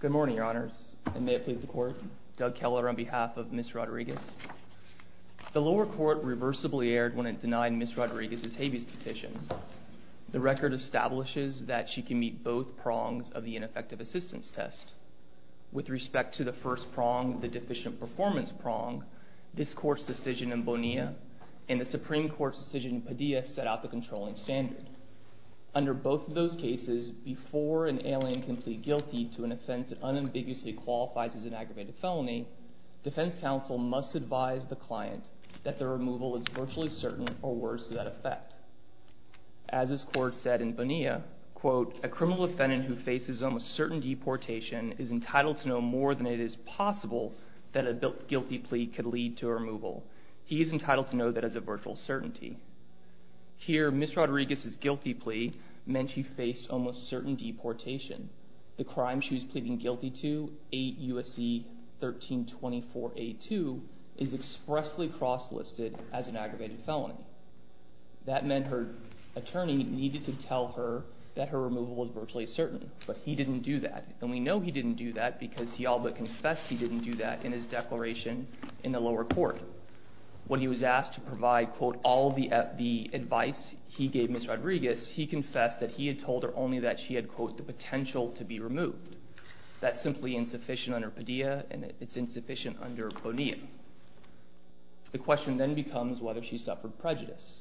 Good morning, Your Honors, and may it please the Court, Doug Keller on behalf of Ms. Rodriguez. The lower court reversibly erred when it denied Ms. Rodriguez's habeas petition. The record establishes that she can meet both prongs of the ineffective assistance test. With respect to the first prong, the deficient performance prong, this Court's decision in Bonilla and the Supreme Court's decision in Padilla set out the controlling standard. Under both of those cases, before an alien can plead guilty to an offense that unambiguously qualifies as an aggravated felony, defense counsel must advise the client that the removal is virtually certain or worse to that effect. As this Court said in Bonilla, quote, a criminal defendant who faces almost certain deportation is entitled to know more than it is possible that a guilty plea could lead to a removal. He is entitled to know that as a virtual certainty. Here, Ms. Rodriguez's guilty plea meant she faced almost certain deportation. The crime she was pleading guilty to, 8 U.S.C. 1324A2, is expressly cross-listed as an aggravated felony. That meant her attorney needed to tell her that her removal was virtually certain, but he didn't do that. And we know he didn't do that because he all but confessed he didn't do that in his declaration in the lower court. When he was asked to provide, quote, all the advice he gave Ms. Rodriguez, he confessed that he had told her only that she had, quote, the potential to be removed. That's simply insufficient under Padilla, and it's insufficient under Bonilla. The question then becomes whether she suffered prejudice.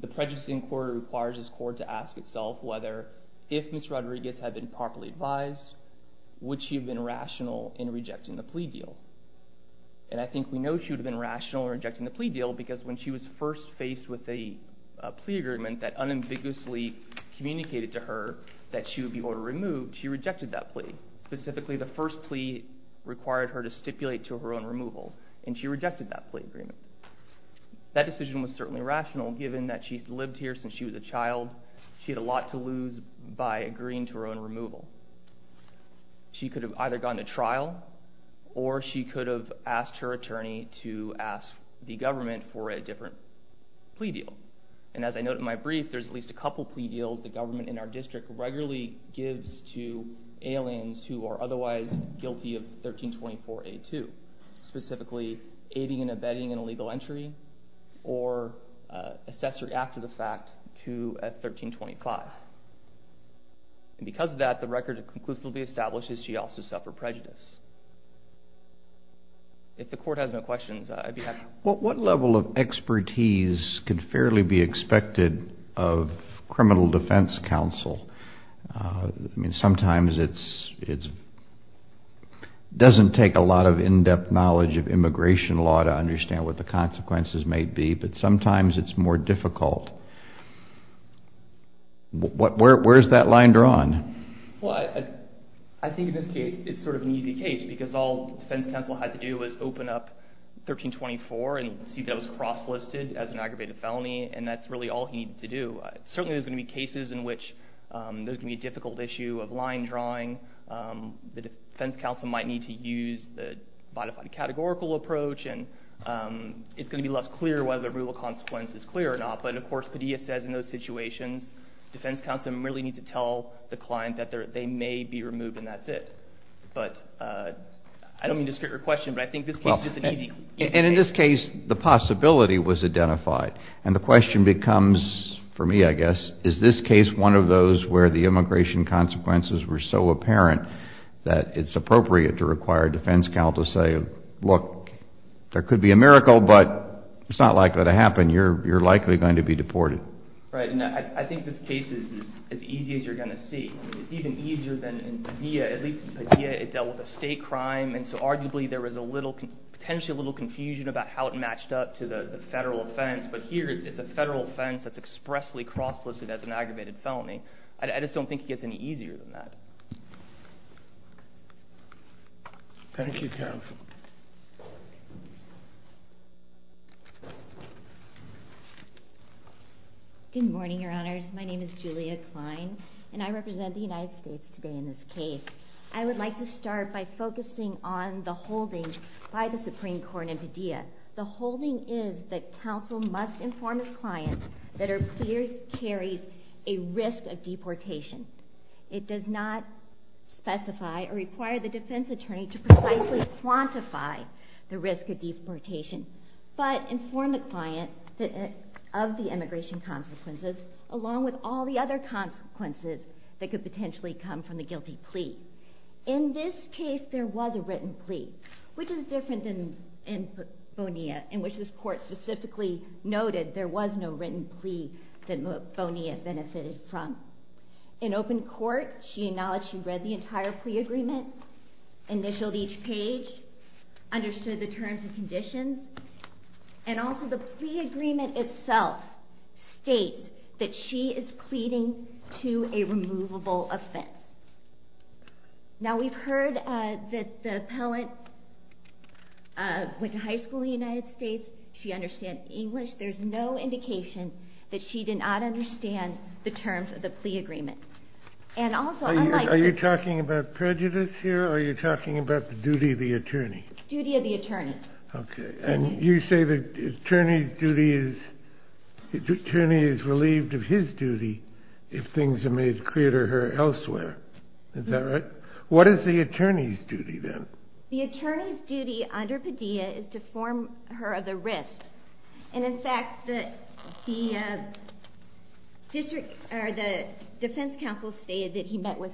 The prejudicing court requires this court to ask itself whether, if Ms. Rodriguez had been properly advised, would she have been rational in rejecting the plea deal. And I think we know she would have been rational in rejecting the plea deal because when she was first faced with a plea agreement that unambiguously communicated to her that she would be ordered removed, she rejected that plea. Specifically, the first plea required her to stipulate to her own removal, and she rejected that plea agreement. That decision was certainly rational, given that she had lived here since she was a child. She had a lot to lose by agreeing to her own removal. She could have either gone to trial or she could have asked her attorney to ask the government for a different plea deal. And as I note in my brief, there's at least a couple plea deals the government in our district regularly gives to aliens who are otherwise guilty of 1324A2, specifically aiding and abetting an illegal entry or accessory act of the fact to 1325. And because of that, the record conclusively establishes she also suffered prejudice. If the court has no questions, I'd be happy to... What level of expertise could fairly be expected of criminal defense counsel? Sometimes it doesn't take a lot of in-depth knowledge of immigration law to understand what the consequences may be, but sometimes it's more difficult. Where's that line drawn? Well, I think in this case, it's sort of an easy case, because all defense counsel had to do was open up 1324 and see if it was cross-listed as an aggravated felony, and that's really all he needed to do. Certainly, there's going to be cases in which there's going to be a difficult issue of line drawing. The defense counsel might need to use the modified categorical approach, and it's going to be less clear whether the real consequence is clear or not. But of course, Padilla says in those situations, defense counsel merely needs to tell the client that they may be removed, and that's it. But I don't mean to skirt your question, but I think this case is just an easy case. And in this case, the possibility was identified. And the question becomes, for me, I guess, is this case one of those where the immigration consequences were so apparent that it's appropriate to require a defense counsel to say, look, there could be a miracle, but it's not likely to happen. You're likely going to be deported. Right. And I think this case is as easy as you're going to see. It's even easier than in Padilla. At least in Padilla, it dealt with a state crime, and so arguably, there was a little – potentially a little confusion about how it matched up to the federal offense. But here, it's a federal offense that's expressly cross-listed as an aggravated felony. I just don't think it gets any easier than that. Thank you, counsel. Good morning, Your Honors. My name is Julia Klein, and I represent the United States today in this case. I would like to start by focusing on the holding by the Supreme Court in Padilla. The holding is that counsel must inform a client that her plea carries a risk of deportation. It does not specify or require the defense attorney to precisely quantify the risk of deportation, but inform the client of the immigration consequences, along with all the other consequences that could potentially come from the guilty plea. In this case, there was a written plea, which is different than in Bonilla, in which this court specifically noted there was no written plea that Bonilla benefited from. In open court, she acknowledged she read the entire plea agreement, initialed each page, understood the terms and conditions, and also the plea agreement itself states that she is pleading to a removable offense. Now, we've heard that the appellant went to high school in the United States. She understands English. There's no indication that she did not understand the terms of the plea agreement. Are you talking about prejudice here, or are you talking about the duty of the attorney? Duty of the attorney. Okay. And you say the attorney's duty is, the attorney is relieved of his duty if things are made clear to her elsewhere. Is that right? What is the attorney's duty then? The attorney's duty under Padilla is to inform her of the risk, and in fact, the defense counsel stated that he met with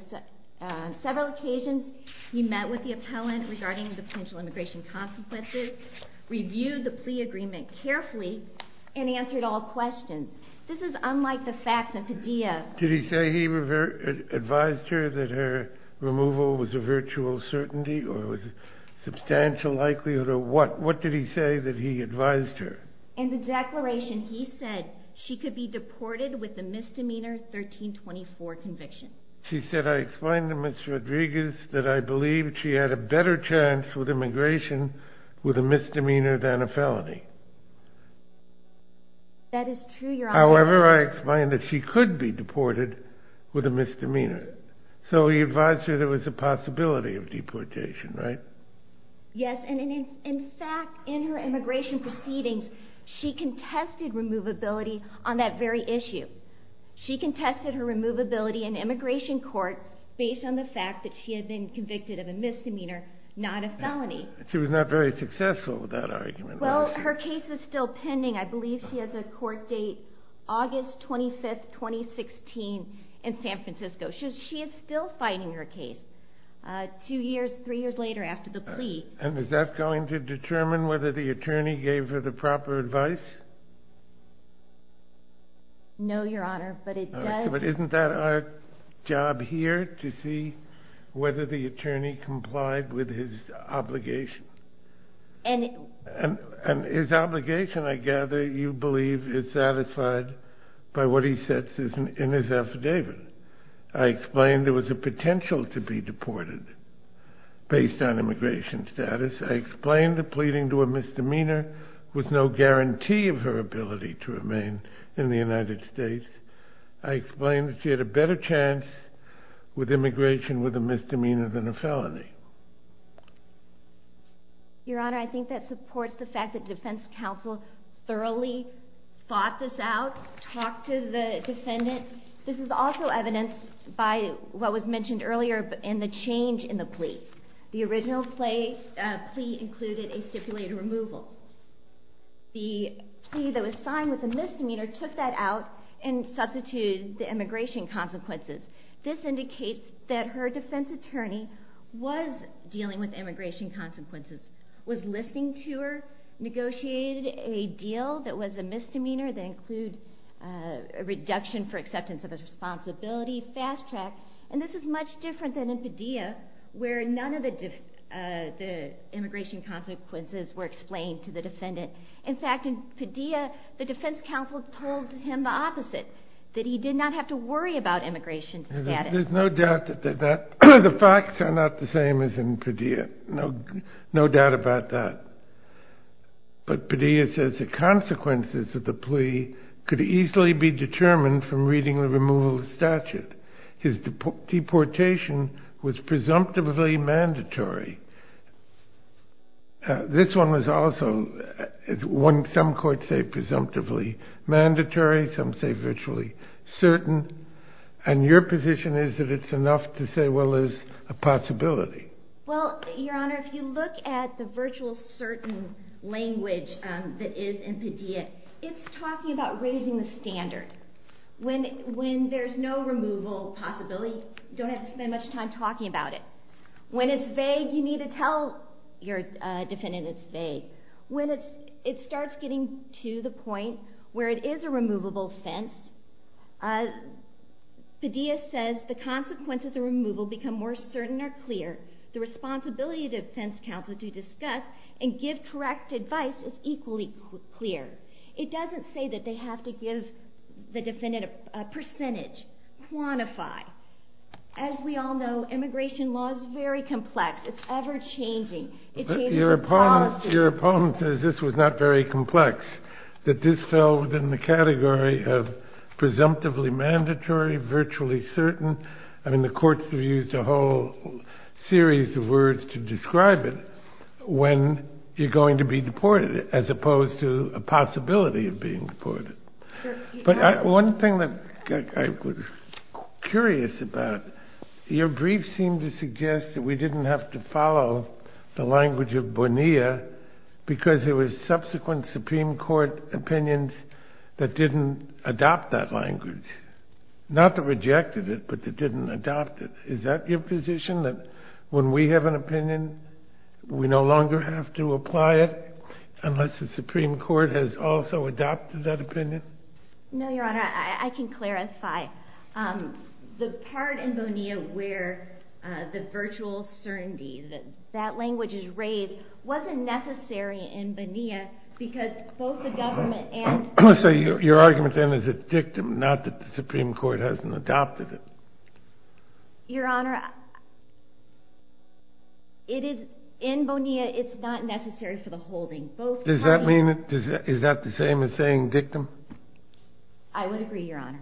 several occasions, he met with the appellant regarding the potential immigration consequences, reviewed the plea agreement carefully, and answered all questions. This is unlike the facts of Padilla. Did he say he advised her that her removal was a virtual certainty, or it was a substantial likelihood, or what? What did he say that he advised her? In the declaration, he said she could be deported with a misdemeanor 1324 conviction. She said, I explained to Ms. Rodriguez that I believed she had a better chance with immigration with a misdemeanor than a felony. That is true, Your Honor. However, I explained that she could be deported with a misdemeanor. So he advised her there was a possibility of deportation, right? Yes, and in fact, in her immigration proceedings, she contested removability on that very issue. She contested her removability in immigration court based on the fact that she had been convicted of a misdemeanor, not a felony. She was not very successful with that argument. Well, her case is still pending. I believe she has a court date August 25, 2016 in San Francisco. She is still fighting her case two years, three years later after the plea. And is that going to determine whether the attorney gave her the proper advice? No, Your Honor, but it does. But isn't that our job here to see whether the attorney complied with his obligation? And his obligation, I gather, you believe is satisfied by what he says in his affidavit. I explained there was a potential to be deported based on immigration status. I explained that pleading to a misdemeanor was no guarantee of her ability to remain in the United States. I explained that she had a better chance with immigration with a misdemeanor than a felony. Your Honor, I think that supports the fact that defense counsel thoroughly thought this out, talked to the defendant. This is also evidenced by what was mentioned earlier in the change in the plea. The original plea included a stipulated removal. The plea that was signed with a misdemeanor took that out and substituted the immigration consequences. This indicates that her defense attorney was dealing with immigration consequences, was listening to her, negotiated a deal that was a misdemeanor that included a reduction for acceptance of his responsibility, fast track. And this is much different than in Padilla, where none of the immigration consequences were explained to the defendant. In fact, in Padilla, the defense counsel told him the opposite, that he did not have to worry about immigration status. There's no doubt that the facts are not the same as in Padilla. No doubt about that. But Padilla says the consequences of the plea could easily be determined from reading the removal statute. His deportation was presumptively mandatory. This one was also, some courts say presumptively mandatory, some say virtually certain. And your position is that it's enough to say, well, there's a possibility. Well, Your Honor, if you look at the virtual certain language that is in Padilla, it's talking about raising the standard. When there's no removal possibility, you don't have to spend much time talking about it. When it's vague, you need to tell your defendant it's vague. When it starts getting to the point where it is a removable fence, Padilla says the consequences of removal become more certain or clear. The responsibility of the defense counsel to discuss and give correct advice is equally clear. It doesn't say that they have to give the defendant a percentage, quantify. As we all know, immigration law is very complex. It's ever-changing. It changes the policy. Your opponent says this was not very complex, that this fell within the category of presumptively mandatory, virtually certain. I mean, the courts have used a whole series of words to describe it when you're going to be deported, as opposed to a possibility of being deported. But one thing that I was curious about, your brief seemed to suggest that we didn't have to follow the language of Bonilla because there were subsequent Supreme Court opinions that didn't adopt that language. Not that rejected it, but that didn't adopt it. Is that your position, that when we have an opinion, we no longer have to apply it unless the Supreme Court has also adopted that opinion? No, Your Honor, I can clarify. The part in Bonilla where the virtual certainty that that language is raised wasn't necessary in Bonilla because both the government and the Supreme Court adopted it. So your argument then is it's dictum, not that the Supreme Court hasn't adopted it? Your Honor, in Bonilla, it's not necessary for the holding. Does that mean it? Is that the same as saying dictum? I would agree, Your Honor.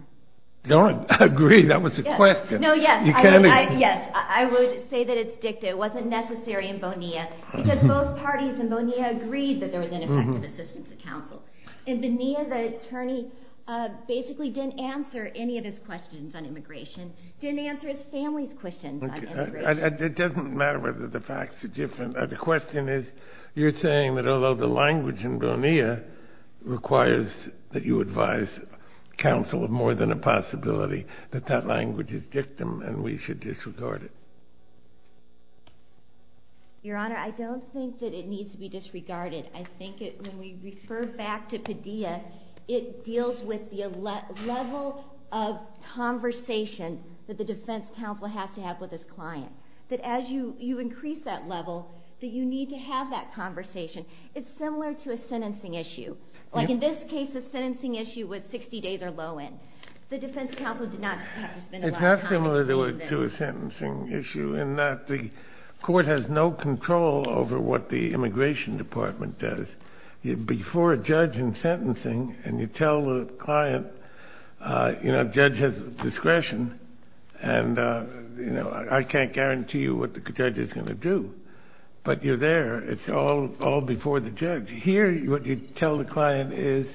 I agree. That was a question. No, yes. I would say that it's dictum. It wasn't necessary in Bonilla because both parties in Bonilla agreed that there was ineffective assistance of counsel. In Bonilla, the attorney basically didn't answer any of his questions on immigration, didn't answer his family's questions on immigration. It doesn't matter whether the facts are different. The question is, you're saying that although the language in Bonilla requires that you advise counsel of more than a possibility, that that language is dictum and we should disregard it? Your Honor, I don't think that it needs to be disregarded. I think when we refer back to Padilla, it deals with the level of conversation that the defense counsel has to have with his client. That as you increase that level, that you need to have that conversation. It's similar to a sentencing issue. Like in this case, a sentencing issue with 60 days or low end. The defense counsel did not have to spend a lot of time on this. It's half similar to a sentencing issue in that the court has no control over what the immigration department does. Before a judge in sentencing and you tell the client, you know, judge has discretion and I can't guarantee you what the judge is going to do, but you're there. It's all before the judge. Here what you tell the client is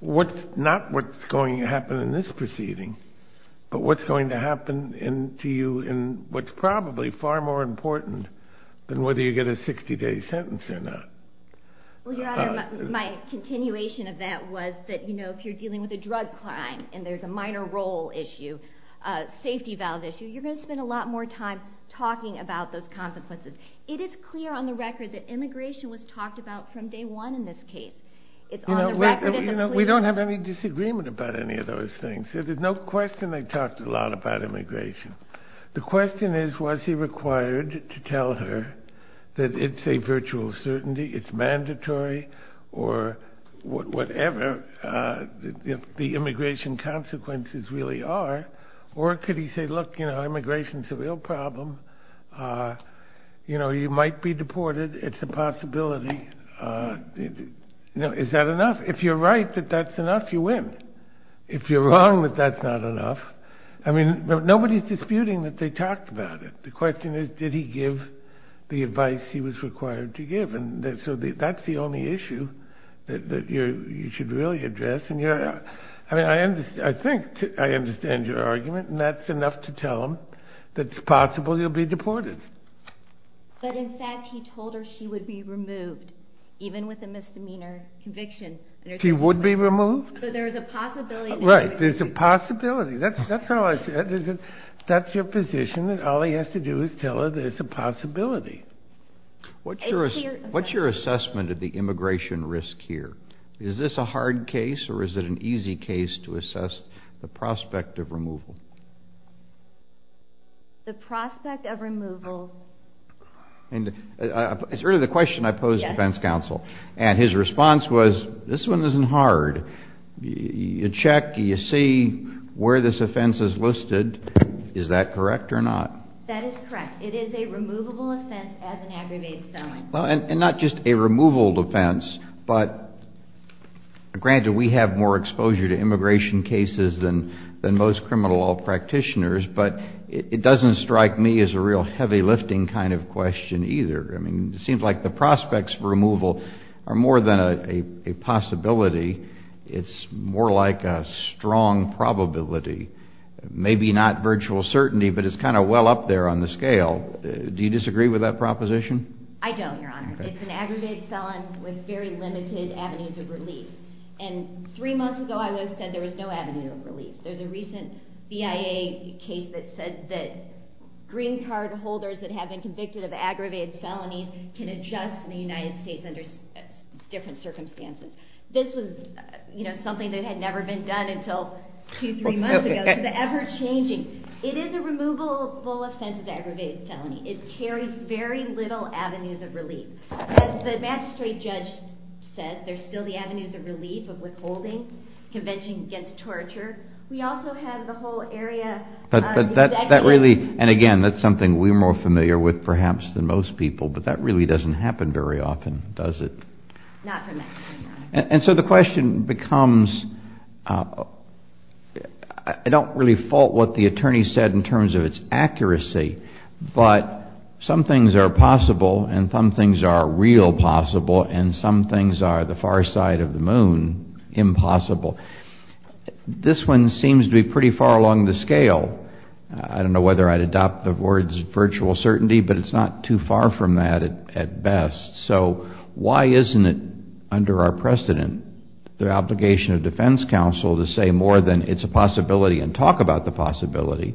not what's going to happen in this proceeding, but what's going to happen to you in what's probably far more important than whether you get a 60 day sentence or not. My continuation of that was that if you're dealing with a drug crime and there's a minor role issue, a safety valve issue, you're going to spend a lot more time talking about those consequences. It is clear on the record that immigration was talked about from day one in this case. We don't have any disagreement about any of those things. There's no question they talked a lot about immigration. The question is, was he required to tell her that it's a virtual certainty, it's mandatory, or whatever the immigration consequences really are? Or could he say, look, you know, immigration is a real problem. You know, you might be deported. It's a possibility. Is that enough? If you're right that that's enough, you win. If you're wrong that that's not enough. I mean, nobody's disputing that they talked about it. The question is, did he give the advice he was required to give? And so that's the only issue that you should really address. I mean, I think I understand your argument, and that's enough to tell him that it's possible you'll be deported. But in fact, he told her she would be removed, even with a misdemeanor conviction. She would be removed? There's a possibility. Right. There's a possibility. That's how I see it. That's your position, and all he has to do is tell her there's a possibility. What's your assessment of the immigration risk here? Is this a hard case, or is it an easy case to assess the prospect of removal? The prospect of removal. It's really the question I posed to the defense counsel, and his response was, this one isn't hard. You check, you see where this offense is listed. Is that correct or not? That is correct. It is a removable offense as an aggravated felony. And not just a removable offense, but granted, we have more exposure to immigration cases than most criminal law practitioners, but it doesn't strike me as a real heavy lifting kind of question either. I mean, it seems like the prospects for removal are more than a possibility. It's more like a strong probability. Maybe not virtual certainty, but it's kind of well up there on the scale. Do you disagree with that proposition? I don't, Your Honor. It's an aggravated felony with very limited avenues of relief. And three months ago, I would have said there was no avenue of relief. There's a recent BIA case that said that green card holders that have been convicted of aggravated felonies can adjust in the United States under different circumstances. This was, you know, something that had never been done until two, three months ago. It's ever-changing. It is a removable offense as an aggravated felony. It carries very little avenues of relief. As the magistrate judge said, there's still the avenues of relief of withholding, convention against torture. We also have the whole area. But that really, and again, that's something we're more familiar with perhaps than most people, but that really doesn't happen very often, does it? Not for me. And so the question becomes, I don't really fault what the attorney said in terms of its accuracy, but some things are possible and some things are real possible and some things are the far side of the moon impossible. This one seems to be pretty far along the scale. I don't know whether I'd adopt the words virtual certainty, but it's not too far from that at best. So why isn't it under our precedent, the obligation of defense counsel to say more than it's a possibility and talk about the possibility?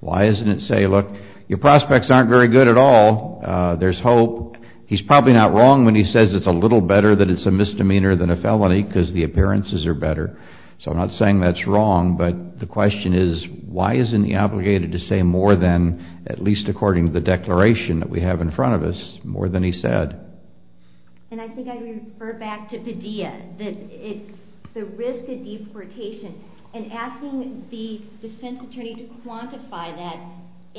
Why isn't it say, look, your prospects aren't very good at all. There's hope. He's probably not wrong when he says it's a little better that it's a misdemeanor than a felony because the appearances are better. So I'm not saying that's wrong, but the question is, why isn't he obligated to say more than, at least according to the declaration that we have in front of us, more than he said? And I think I refer back to Padilla, the risk of deportation, and asking the defense attorney to quantify that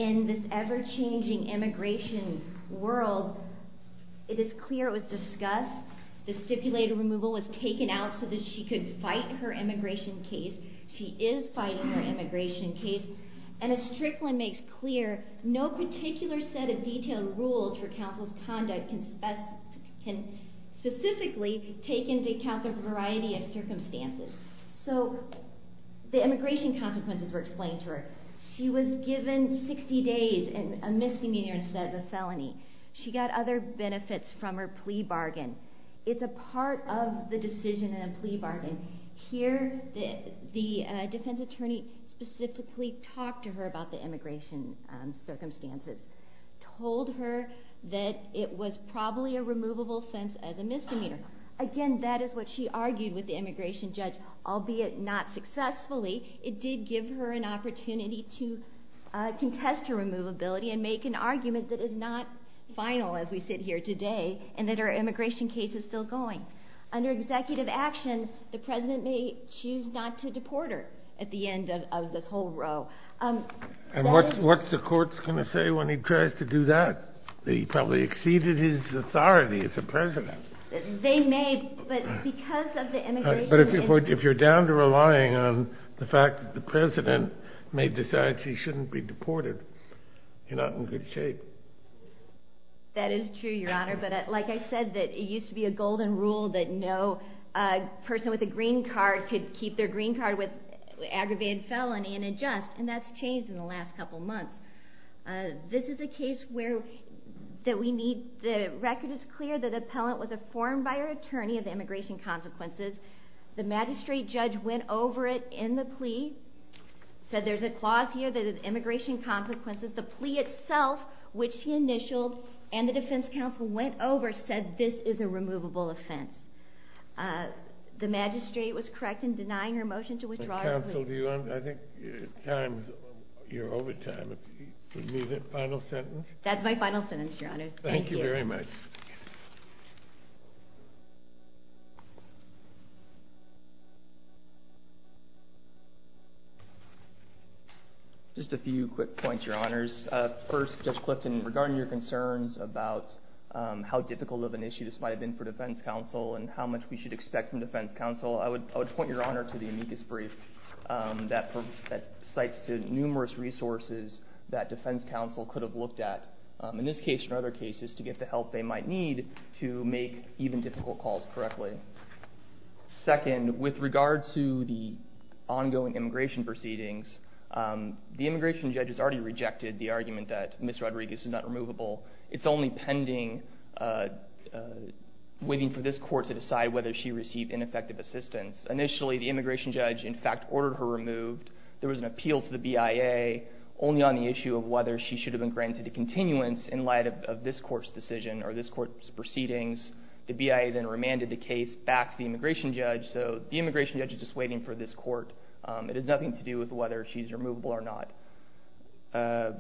in this ever-changing immigration world. It is clear it was discussed. The stipulated removal was taken out so that she could fight her immigration case. She is fighting her immigration case. And as Strickland makes clear, no particular set of detailed rules for counsel's conduct can specifically take into account the variety of circumstances. So the immigration consequences were explained to her. She was given 60 days and a misdemeanor instead of a felony. She got other benefits from her plea bargain. It's a part of the decision in a plea bargain. Here, the defense attorney specifically talked to her about the immigration circumstances, told her that it was probably a removable offense as a misdemeanor. Again, that is what she argued with the immigration judge. Albeit not successfully, it did give her an opportunity to contest her removability and make an argument that is not final as we sit here today and that her immigration case is still going. Under executive action, the president may choose not to deport her at the end of this whole row. And what's the court going to say when he tries to do that? He probably exceeded his authority as a president. They may, but because of the immigration issue. But if you're down to relying on the fact that the president may decide she shouldn't be deported, you're not in good shape. That is true, Your Honor. But like I said, it used to be a golden rule that no person with a green card could keep their green card with aggravated felony and adjust, and that's changed in the last couple months. This is a case where the record is clear that the appellant was informed by her attorney of the immigration consequences. The magistrate judge went over it in the plea, said there's a clause here that has immigration consequences. The plea itself, which she initialed and the defense counsel went over, said this is a removable offense. The magistrate was correct in denying her motion to withdraw her plea. Defense counsel, I think your time is over. Do you need a final sentence? That's my final sentence, Your Honor. Thank you very much. Just a few quick points, Your Honors. First, Judge Clifton, regarding your concerns about how difficult of an issue this might have been for defense counsel and how much we should expect from defense counsel, I would point your Honor to the amicus brief that cites numerous resources that defense counsel could have looked at, in this case and other cases, to get the help they might need to make even difficult calls correctly. Second, with regard to the ongoing immigration proceedings, the immigration judge has already rejected the argument that Ms. Rodriguez is not removable. It's only pending, waiting for this court to decide whether she received ineffective assistance. Initially, the immigration judge, in fact, ordered her removed. There was an appeal to the BIA only on the issue of whether she should have been granted a continuance in light of this court's decision or this court's proceedings. The BIA then remanded the case back to the immigration judge, so the immigration judge is just waiting for this court. It has nothing to do with whether she's removable or not.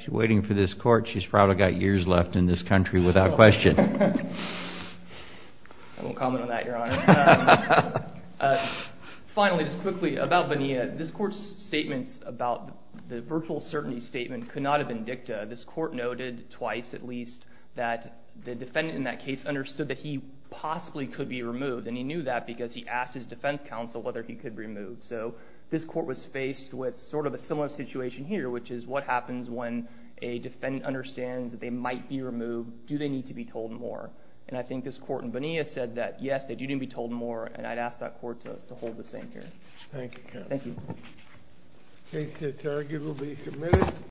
She's waiting for this court. She's probably got years left in this country without question. I won't comment on that, Your Honor. Finally, just quickly about Bonilla, this court's statements about the virtual certainty statement could not have been dicta. This court noted, twice at least, that the defendant in that case understood that he possibly could be removed, and he knew that because he asked his defense counsel whether he could be removed. So this court was faced with sort of a similar situation here, which is what happens when a defendant understands that they might be removed. Do they need to be told more? And I think this court in Bonilla said that, yes, they do need to be told more, and I'd ask that court to hold the same here. Thank you, counsel. Thank you. Case to target will be submitted.